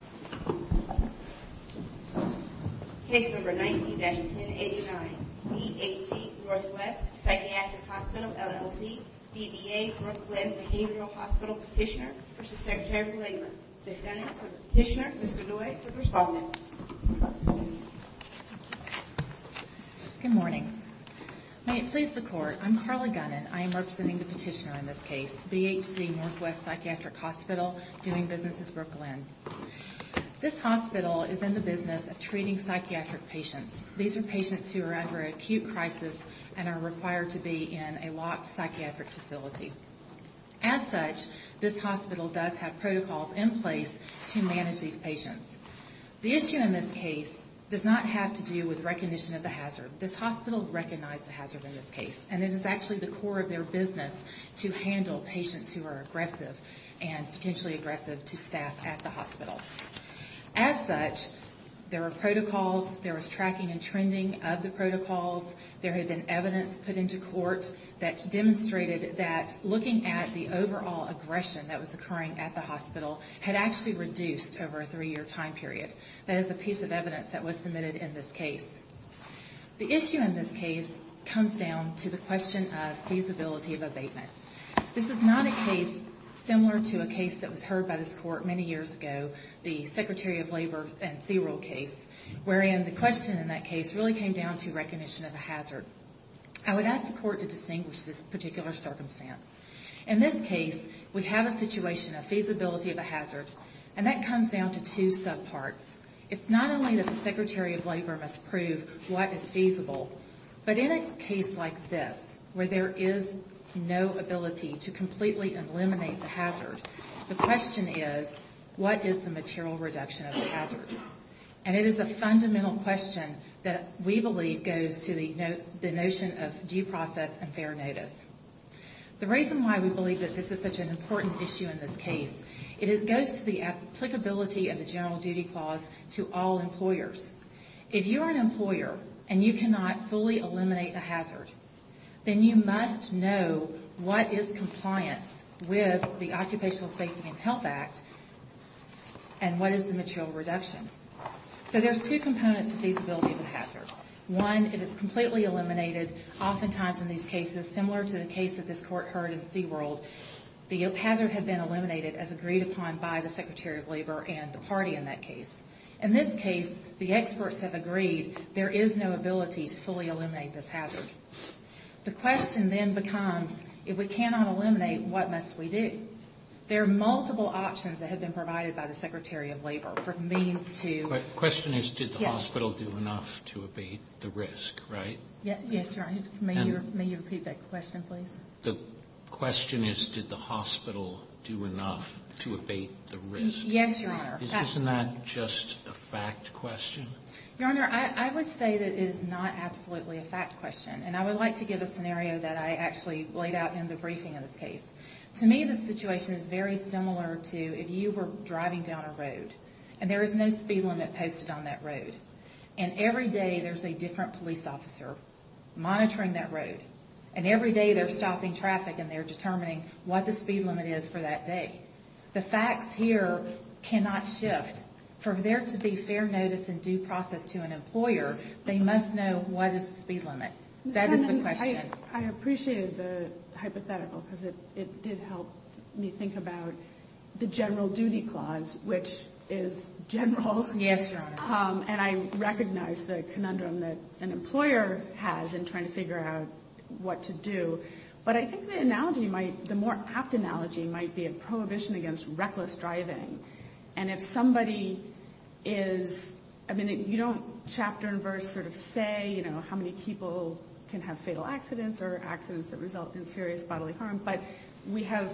B.H.C. Northwest Psychiatric Hospital, LLC, B.B.A. Brooklyn Behavioral Hospital Petitioner v. Secretary of Labor. The Senator for the Petitioner, Mr. Dewey, is the respondent. Good morning. May it please the Court, I'm Carla Gunnan. I am representing the petitioner in this case, B.H.C. Northwest Psychiatric Hospital, doing business in Brooklyn. This hospital is in the business of treating psychiatric patients. These are patients who are under acute crisis and are required to be in a locked psychiatric facility. As such, this hospital does have protocols in place to manage these patients. The issue in this case does not have to do with recognition of the hazard. This hospital recognized the hazard in this case, and it is actually the core of their business to handle patients who are aggressive and potentially aggressive to staff at the hospital. As such, there were protocols, there was tracking and trending of the protocols, there had been evidence put into court that demonstrated that looking at the overall aggression that was occurring at the hospital had actually reduced over a three-year time period. That is the piece of evidence that was submitted in this case. The issue in this case comes down to the question of feasibility of abatement. This is not a case similar to a case that was heard by this Court many years ago, the Secretary of Labor and C-Roll case, wherein the question in that case really came down to recognition of a hazard. I would ask the Court to distinguish this particular circumstance. In this case, we have a situation of feasibility of a hazard, and that comes down to two subparts. It's not only that the Secretary of Labor must prove what is feasible, but in a case like this, where there is no ability to completely eliminate the hazard, the question is, what is the material reduction of the hazard? And it is a fundamental question that we believe goes to the notion of due process and fair notice. The reason why we believe that this is such an important issue in this case, it goes to the applicability of the General Duty Clause to all employers. If you're an employer and you cannot fully eliminate a hazard, then you must know what is compliance with the Occupational Safety and Health Act and what is the material reduction. So there's two components to feasibility of a hazard. One, it is completely eliminated. Oftentimes in these cases, similar to the case that this Court heard in C-World, the hazard had been eliminated as agreed upon by the Secretary of Labor and the party in that case. In this case, the experts have agreed there is no ability to fully eliminate this hazard. The question then becomes, if we cannot eliminate, what must we do? There are multiple options that have been provided by the Secretary of Labor for means to... Yes, Your Honor. May you repeat that question, please? The question is, did the hospital do enough to abate the risk? Yes, Your Honor. Isn't that just a fact question? Your Honor, I would say that it is not absolutely a fact question. And I would like to give a scenario that I actually laid out in the briefing of this case. To me, the situation is very similar to if you were driving down a road and there is no speed limit posted on that road. And every day there is a different police officer monitoring that road. And every day they are stopping traffic and they are determining what the speed limit is for that day. The facts here cannot shift. For there to be fair notice and due process to an employer, they must know what is the speed limit. That is the question. I appreciate the hypothetical because it did help me think about the general duty clause, which is general. Yes, Your Honor. And I recognize the conundrum that an employer has in trying to figure out what to do. But I think the analogy might, the more apt analogy might be a prohibition against reckless driving. And if somebody is, I mean, you don't chapter and verse sort of say, you know, how many people can have fatal accidents or accidents that result in serious bodily harm. But we have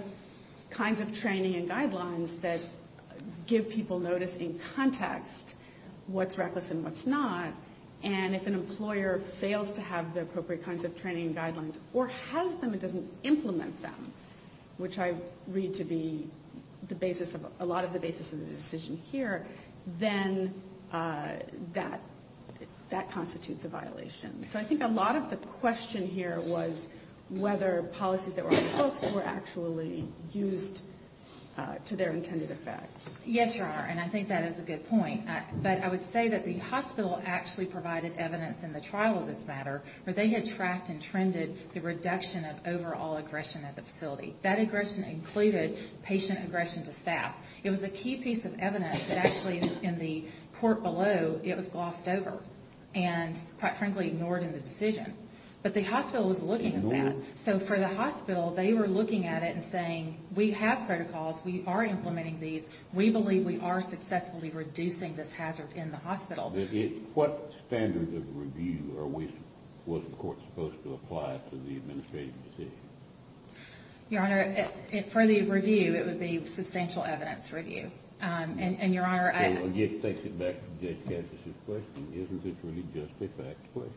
kinds of training and guidelines that give people notice in context what's reckless and what's not. And if an employer fails to have the appropriate kinds of training and guidelines or has them and doesn't implement them, which I read to be the basis of a lot of the basis of the decision here, then that constitutes a violation. So I think a lot of the question here was whether policies that were on the books were actually used to their intended effect. Yes, Your Honor. And I think that is a good point. But I would say that the hospital actually provided evidence in the trial of this matter where they had tracked and trended the reduction of overall aggression at the facility. That aggression included patient aggression to staff. It was a key piece of evidence that actually in the court below, it was glossed over. And quite frankly, ignored in the decision. But the hospital was looking at that. So for the hospital, they were looking at it and saying, we have protocols. We are implementing these. We believe we are successfully reducing this hazard in the hospital. What standard of review was the court supposed to apply to the administrative decision? Your Honor, for the review, it would be substantial evidence review. And, Your Honor, I It takes it back to Judge Kansas' question. Isn't it really just a fact question?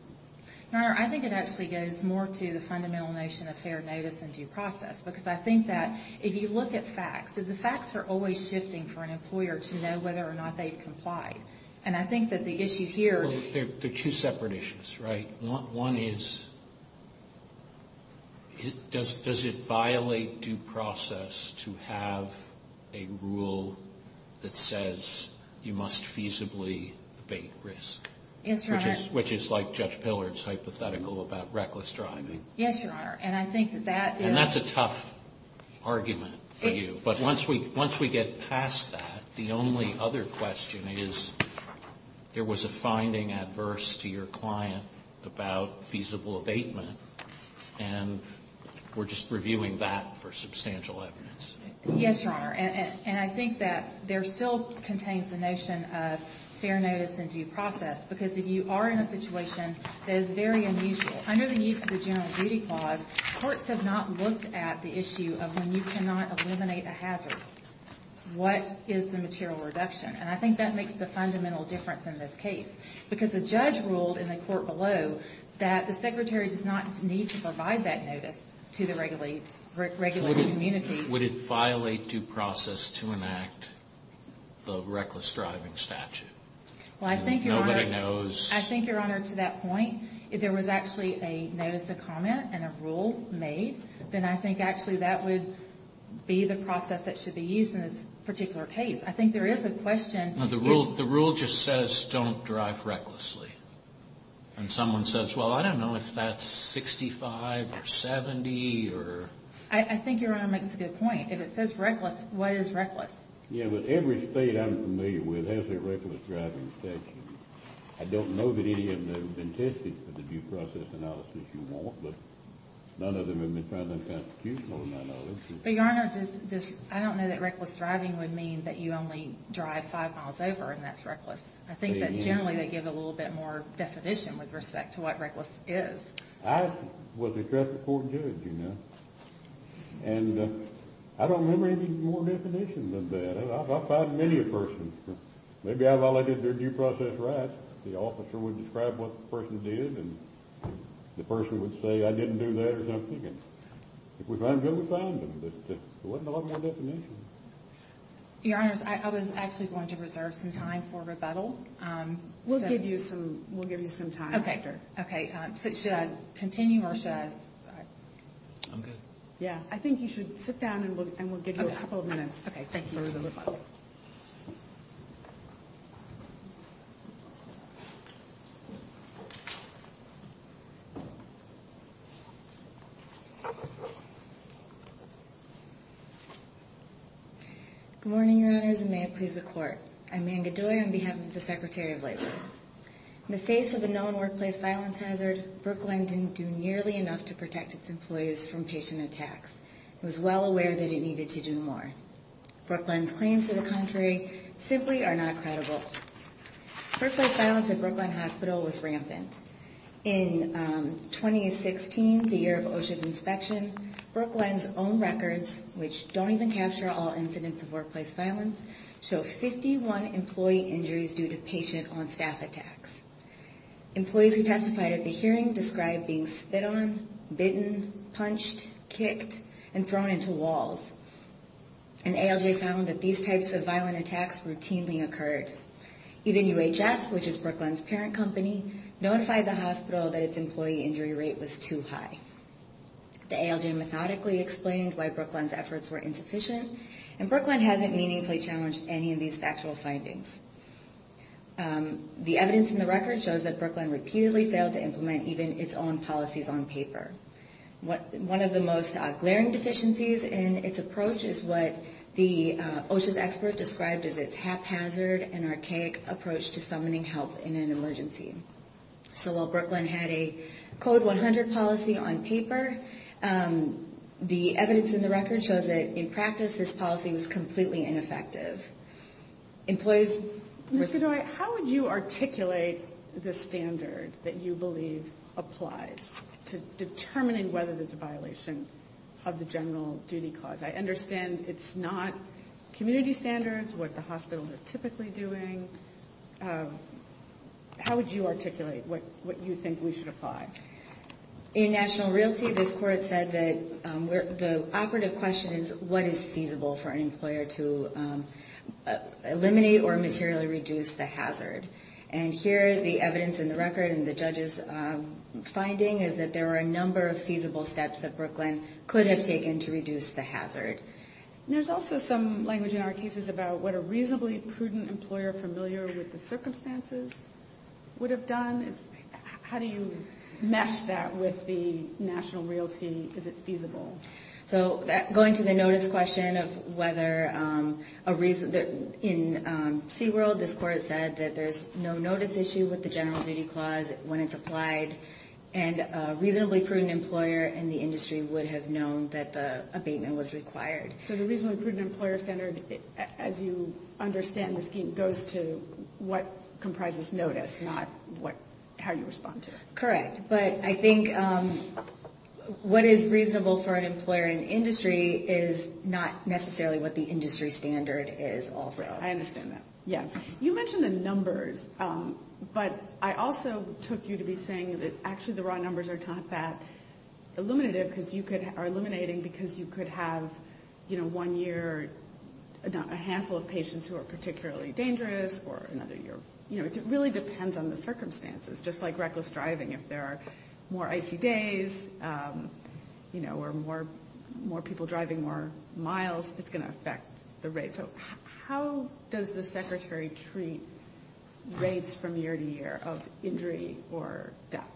Your Honor, I think it actually goes more to the fundamental notion of fair notice and due process. Because I think that if you look at facts, the facts are always shifting for an employer to know whether or not they've complied. And I think that the issue here There are two separate issues, right? One is, does it violate due process to have a rule that says you must feasibly debate risk? Yes, Your Honor. Which is like Judge Pillard's hypothetical about reckless driving. Yes, Your Honor. And I think that that is And that's a tough argument for you. But once we get past that, the only other question is, there was a finding adverse to your client about feasible abatement, and we're just reviewing that for substantial evidence. Yes, Your Honor. And I think that there still contains the notion of fair notice and due process. Because if you are in a situation that is very unusual, under the use of the general duty clause, courts have not looked at the issue of when you cannot eliminate a hazard, what is the material reduction? And I think that makes the fundamental difference in this case. Because the judge ruled in the court below that the secretary does not need to provide that notice to the regulatory community. Would it violate due process to enact the reckless driving statute? Well, I think, Your Honor Nobody knows I think, Your Honor, to that point, if there was actually a notice of comment and a rule made, then I think actually that would be the process that should be used in this particular case. I think there is a question The rule just says don't drive recklessly. And someone says, well, I don't know if that's 65 or 70 or I think Your Honor makes a good point. If it says reckless, what is reckless? Yeah, but every state I'm familiar with has a reckless driving statute. I don't know that any of them have been tested for the due process analysis you want, but none of them have been found unconstitutional in that notice. But Your Honor, I don't know that reckless driving would mean that you only drive five miles over and that's reckless. I think that generally they give a little bit more definition with respect to what reckless is. I was a traffic court judge, you know. And I don't remember any more definition than that. I found many a person. Maybe I violated their due process rights. The officer would describe what the person did and the person would say I didn't do that or something. And if we found them, we found them. But there wasn't a lot more definition. Your Honors, I was actually going to reserve some time for rebuttal. We'll give you some time. OK. Should I continue or should I stop? I'm good. Yeah, I think you should sit down and we'll give you a couple of minutes. OK, thank you for the rebuttal. Good morning, Your Honors, and may it please the Court. I'm Anne Godoy on behalf of the Secretary of Labor. In the face of a known workplace violence hazard, Brooklyn didn't do nearly enough to protect its employees from patient attacks. It was well aware that it needed to do more. Brooklyn's claims to the contrary simply are not credible. Workplace violence at Brooklyn Hospital was rampant. In 2016, the year of OSHA's inspection, Brooklyn's own records, which don't even capture all incidents of workplace violence, show 51 employee injuries due to patient on-staff attacks. Employees who testified at the hearing described being spit on, bitten, punched, kicked, and thrown into walls. And ALJ found that these types of violent attacks routinely occurred. Even UHS, which is Brooklyn's parent company, notified the hospital that its employee injury rate was too high. The ALJ methodically explained why Brooklyn's efforts were insufficient, and Brooklyn hasn't meaningfully challenged any of these factual findings. The evidence in the record shows that Brooklyn repeatedly failed to implement even its own policies on paper. One of the most glaring deficiencies in its approach is what the OSHA's expert described as its haphazard and archaic approach to summoning help in an emergency. So while Brooklyn had a Code 100 policy on paper, the evidence in the record shows that in practice, this policy was completely ineffective. Employees... Ms. Godoy, how would you articulate the standard that you believe applies to determining whether there's a violation of the general duty clause? I understand it's not community standards, what the hospitals are typically doing. How would you articulate what you think we should apply? In national realty, this court said that the operative question is what is feasible for an employer to eliminate or materially reduce the hazard? And here, the evidence in the record and the judge's finding is that there are a number of feasible steps that Brooklyn could have taken to reduce the hazard. There's also some language in our cases about what a reasonably prudent employer familiar with the circumstances would have done. How do you mesh that with the national realty? Is it feasible? So going to the notice question of whether a reason... In SeaWorld, this court said that there's no notice issue with the general duty clause when it's applied, and a reasonably prudent employer in the industry would have known that the abatement was required. So the reasonably prudent employer centered, as you understand the scheme, goes to what comprises notice, not how you respond to it. Correct. But I think what is reasonable for an employer in industry is not necessarily what the industry standard is also. I understand that. Yeah. You mentioned the numbers, but I also took you to be saying that actually the raw numbers are not that illuminative because you could... Are illuminating because you could have, you know, one year, a handful of patients who are particularly dangerous, or another year... You know, it really depends on the circumstances, just like reckless driving. If there are more icy days, you know, or more people driving more miles, it's going to affect the rate. So how does the secretary treat rates from year to year of injury or death?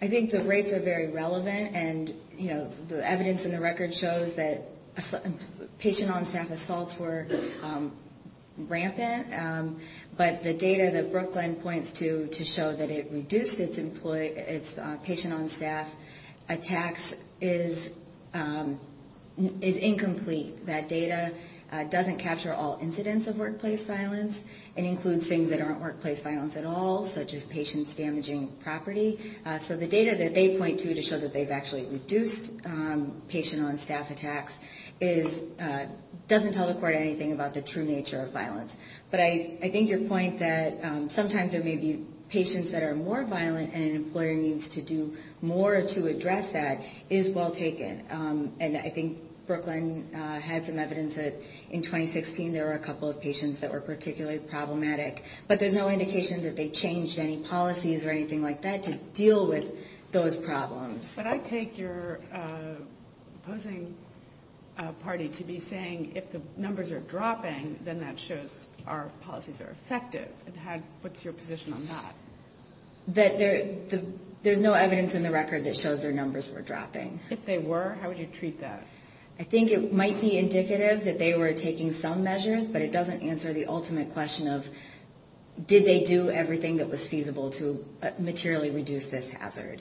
I think the rates are very relevant, and, you know, the evidence in the record shows that patient-on-staff assaults were rampant, but the data that Brooklyn points to to show that it reduced its patient-on-staff attacks is incomplete. That data doesn't capture all incidents of workplace violence. It includes things that aren't workplace violence at all, such as patients damaging property. So the data that they point to to show that they've actually reduced patient-on-staff attacks doesn't tell the court anything about the true nature of violence. But I think your point that sometimes there may be patients that are more violent and an employer needs to do more to address that is well taken. And I think Brooklyn had some evidence that in 2016 there were a couple of patients that were particularly problematic, but there's no indication that they changed any policies or anything like that to deal with those problems. But I take your opposing party to be saying if the numbers are dropping, then that shows our policies are effective. What's your position on that? There's no evidence in the record that shows their numbers were dropping. If they were, how would you treat that? I think it might be indicative that they were taking some measures, but it doesn't answer the ultimate question of did they do everything that was feasible to materially reduce this hazard.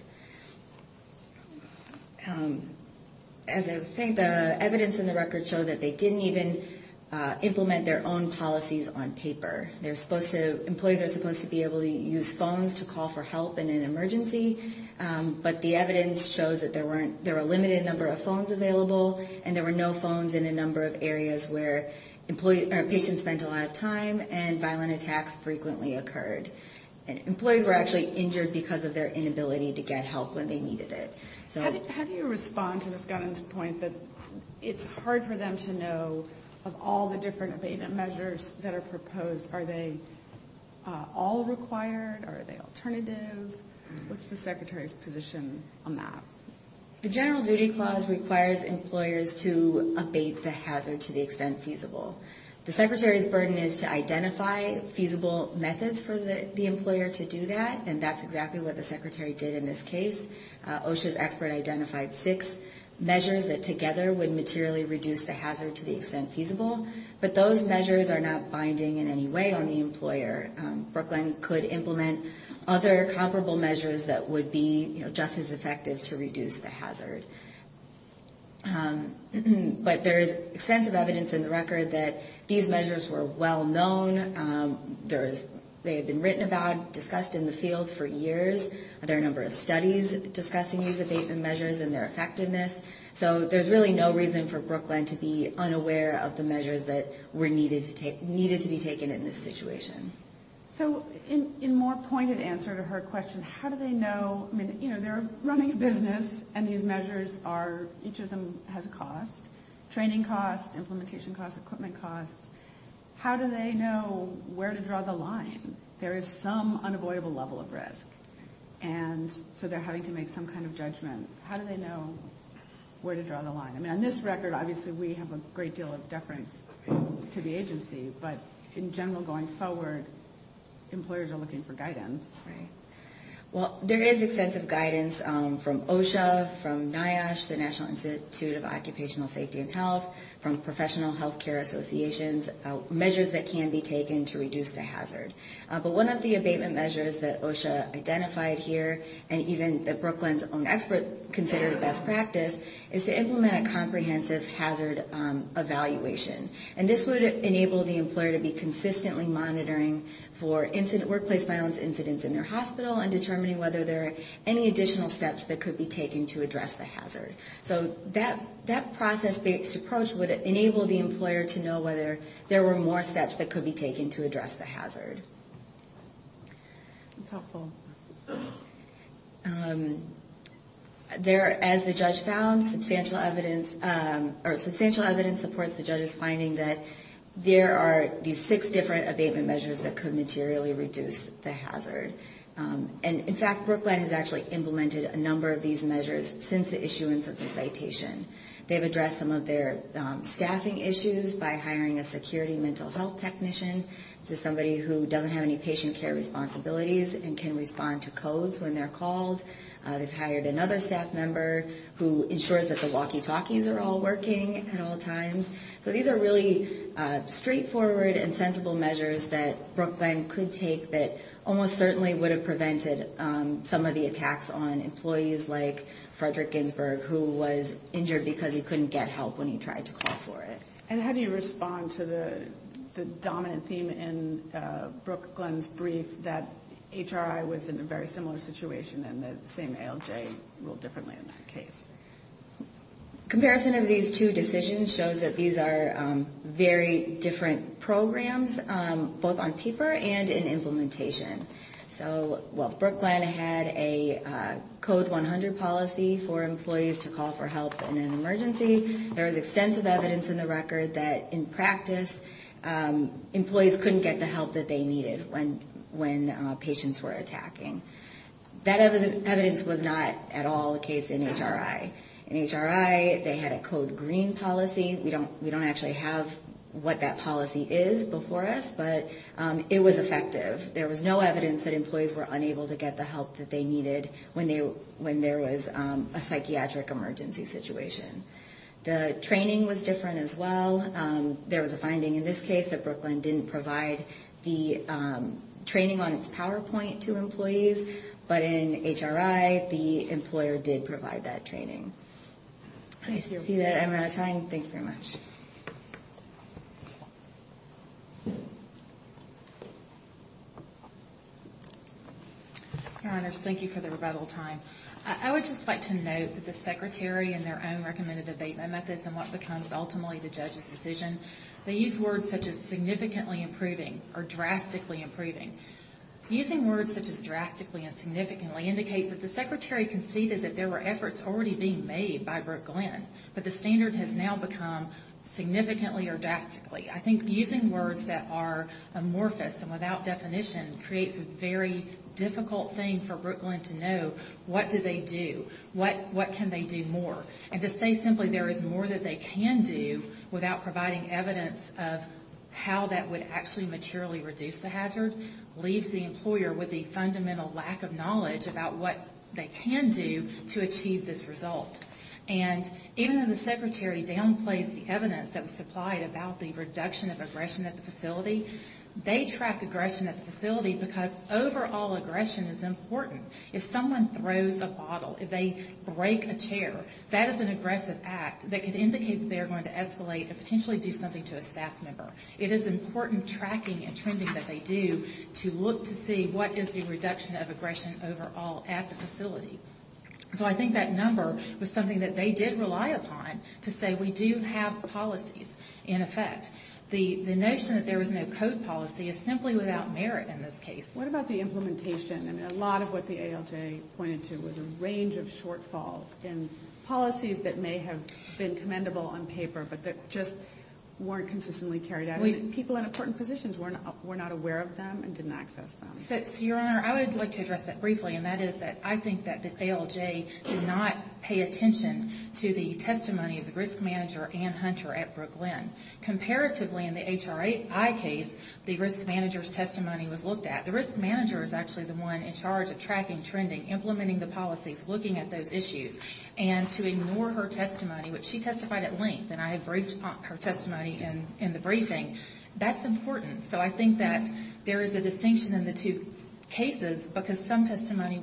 As I was saying, the evidence in the record showed that they didn't even implement their own policies on paper. Employees are supposed to be able to use phones to call for help in an emergency, but the evidence shows that there were a limited number of phones available and there were no phones in a number of areas where patients spent a lot of time and violent attacks frequently occurred. And employees were actually injured because of their inability to get help when they needed it. How do you respond to Ms. Gunn's point that it's hard for them to know of all the different abatement measures that are proposed, are they all required? Are they alternative? What's the Secretary's position on that? The General Duty Clause requires employers to abate the hazard to the extent feasible. The Secretary's burden is to identify feasible methods for the employer to do that, and that's exactly what the Secretary did in this case. OSHA's expert identified six measures that together would materially reduce the hazard to the extent feasible, but those measures are not binding in any way on the employer. Brooklyn could implement other comparable measures that would be just as effective to reduce the hazard. But there is extensive evidence in the record that these measures were well-known. They had been written about, discussed in the field for years. There are a number of studies discussing these abatement measures and their effectiveness, so there's really no reason for Brooklyn to be unaware of the measures that were needed to be taken in this situation. So in more pointed answer to her question, how do they know? I mean, you know, they're running a business, and these measures are, each of them has a cost. Training costs, implementation costs, equipment costs. How do they know where to draw the line? There is some unavoidable level of risk, and so they're having to make some kind of judgment. How do they know where to draw the line? I mean, on this record, obviously we have a great deal of deference to the agency, but in general going forward, employers are looking for guidance. Right. Well, there is extensive guidance from OSHA, from NIOSH, the National Institute of Occupational Safety and Health, from professional health care associations, measures that can be taken to reduce the hazard. But one of the abatement measures that OSHA identified here, and even that Brooklyn's own expert considered a best practice, is to implement a comprehensive hazard evaluation. And this would enable the employer to be consistently monitoring for workplace violence incidents in their hospital, and determining whether there are any additional steps that could be taken to address the hazard. So that process-based approach would enable the employer to know whether there were more steps that could be taken to address the hazard. That's helpful. There, as the judge found, substantial evidence, or substantial evidence supports the judge's finding that there are these six different abatement measures that could materially reduce the hazard. And, in fact, Brooklyn has actually implemented a number of these measures since the issuance of the citation. They've addressed some of their staffing issues by hiring a security mental health technician. This is somebody who doesn't have any patient care responsibilities and can respond to codes when they're called. They've hired another staff member who ensures that the walkie-talkies are all working at all times. So these are really straightforward and sensible measures that Brooklyn could take that almost certainly would have prevented some of the attacks on employees like Frederick Ginsburg, who was injured because he couldn't get help when he tried to call for it. And how do you respond to the dominant theme in Brooklyn's brief that HRI was in a very similar situation and the same ALJ ruled differently in that case? Comparison of these two decisions shows that these are very different programs, both on paper and in implementation. So, well, Brooklyn had a Code 100 policy for employees to call for help in an emergency. There was extensive evidence in the record that in practice employees couldn't get the help that they needed when patients were attacking. That evidence was not at all the case in HRI. In HRI they had a Code Green policy. We don't actually have what that policy is before us, but it was effective. There was no evidence that employees were unable to get the help that they needed when there was a psychiatric emergency situation. The training was different as well. There was a finding in this case that Brooklyn didn't provide the training on its PowerPoint to employees, but in HRI the employer did provide that training. I see that I'm out of time. Thank you very much. Your Honors, thank you for the rebuttal time. I would just like to note that the Secretary in their own recommended abatement methods and what becomes ultimately the judge's decision, they use words such as significantly improving or drastically improving. Using words such as drastically and significantly indicates that the Secretary conceded that there were efforts already being made by Brooklyn, but the standard has now become significantly or drastically. I think using words that are amorphous and without definition creates a very difficult thing for Brooklyn to know what do they do, what can they do more. And to say simply there is more that they can do without providing evidence of how that would actually materially reduce the situation leaves the employer with a fundamental lack of knowledge about what they can do to achieve this result. And even though the Secretary downplaced the evidence that was supplied about the reduction of aggression at the facility, they track aggression at the facility because overall aggression is important. If someone throws a bottle, if they break a chair, that is an aggressive act that could indicate that they are going to escalate and potentially do something to a staff member. It is important tracking and trending that they do to look to see what is the reduction of aggression overall at the facility. So I think that number was something that they did rely upon to say we do have policies in effect. The notion that there was no code policy is simply without merit in this case. What about the implementation? And a lot of what the ALJ pointed to was a range of shortfalls in policies that may have been implemented. People in important positions were not aware of them and didn't access them. So, Your Honor, I would like to address that briefly, and that is that I think that the ALJ did not pay attention to the testimony of the risk manager, Ann Hunter, at Brooklin. Comparatively, in the HRI case, the risk manager's testimony was looked at. The risk manager is actually the one in charge of tracking, trending, implementing the policies, looking at those issues. And to ignore her testimony, which she testified at length, and I briefed her testimony in the briefing, that's important. So I think that there is a distinction in the two cases because some testimony was,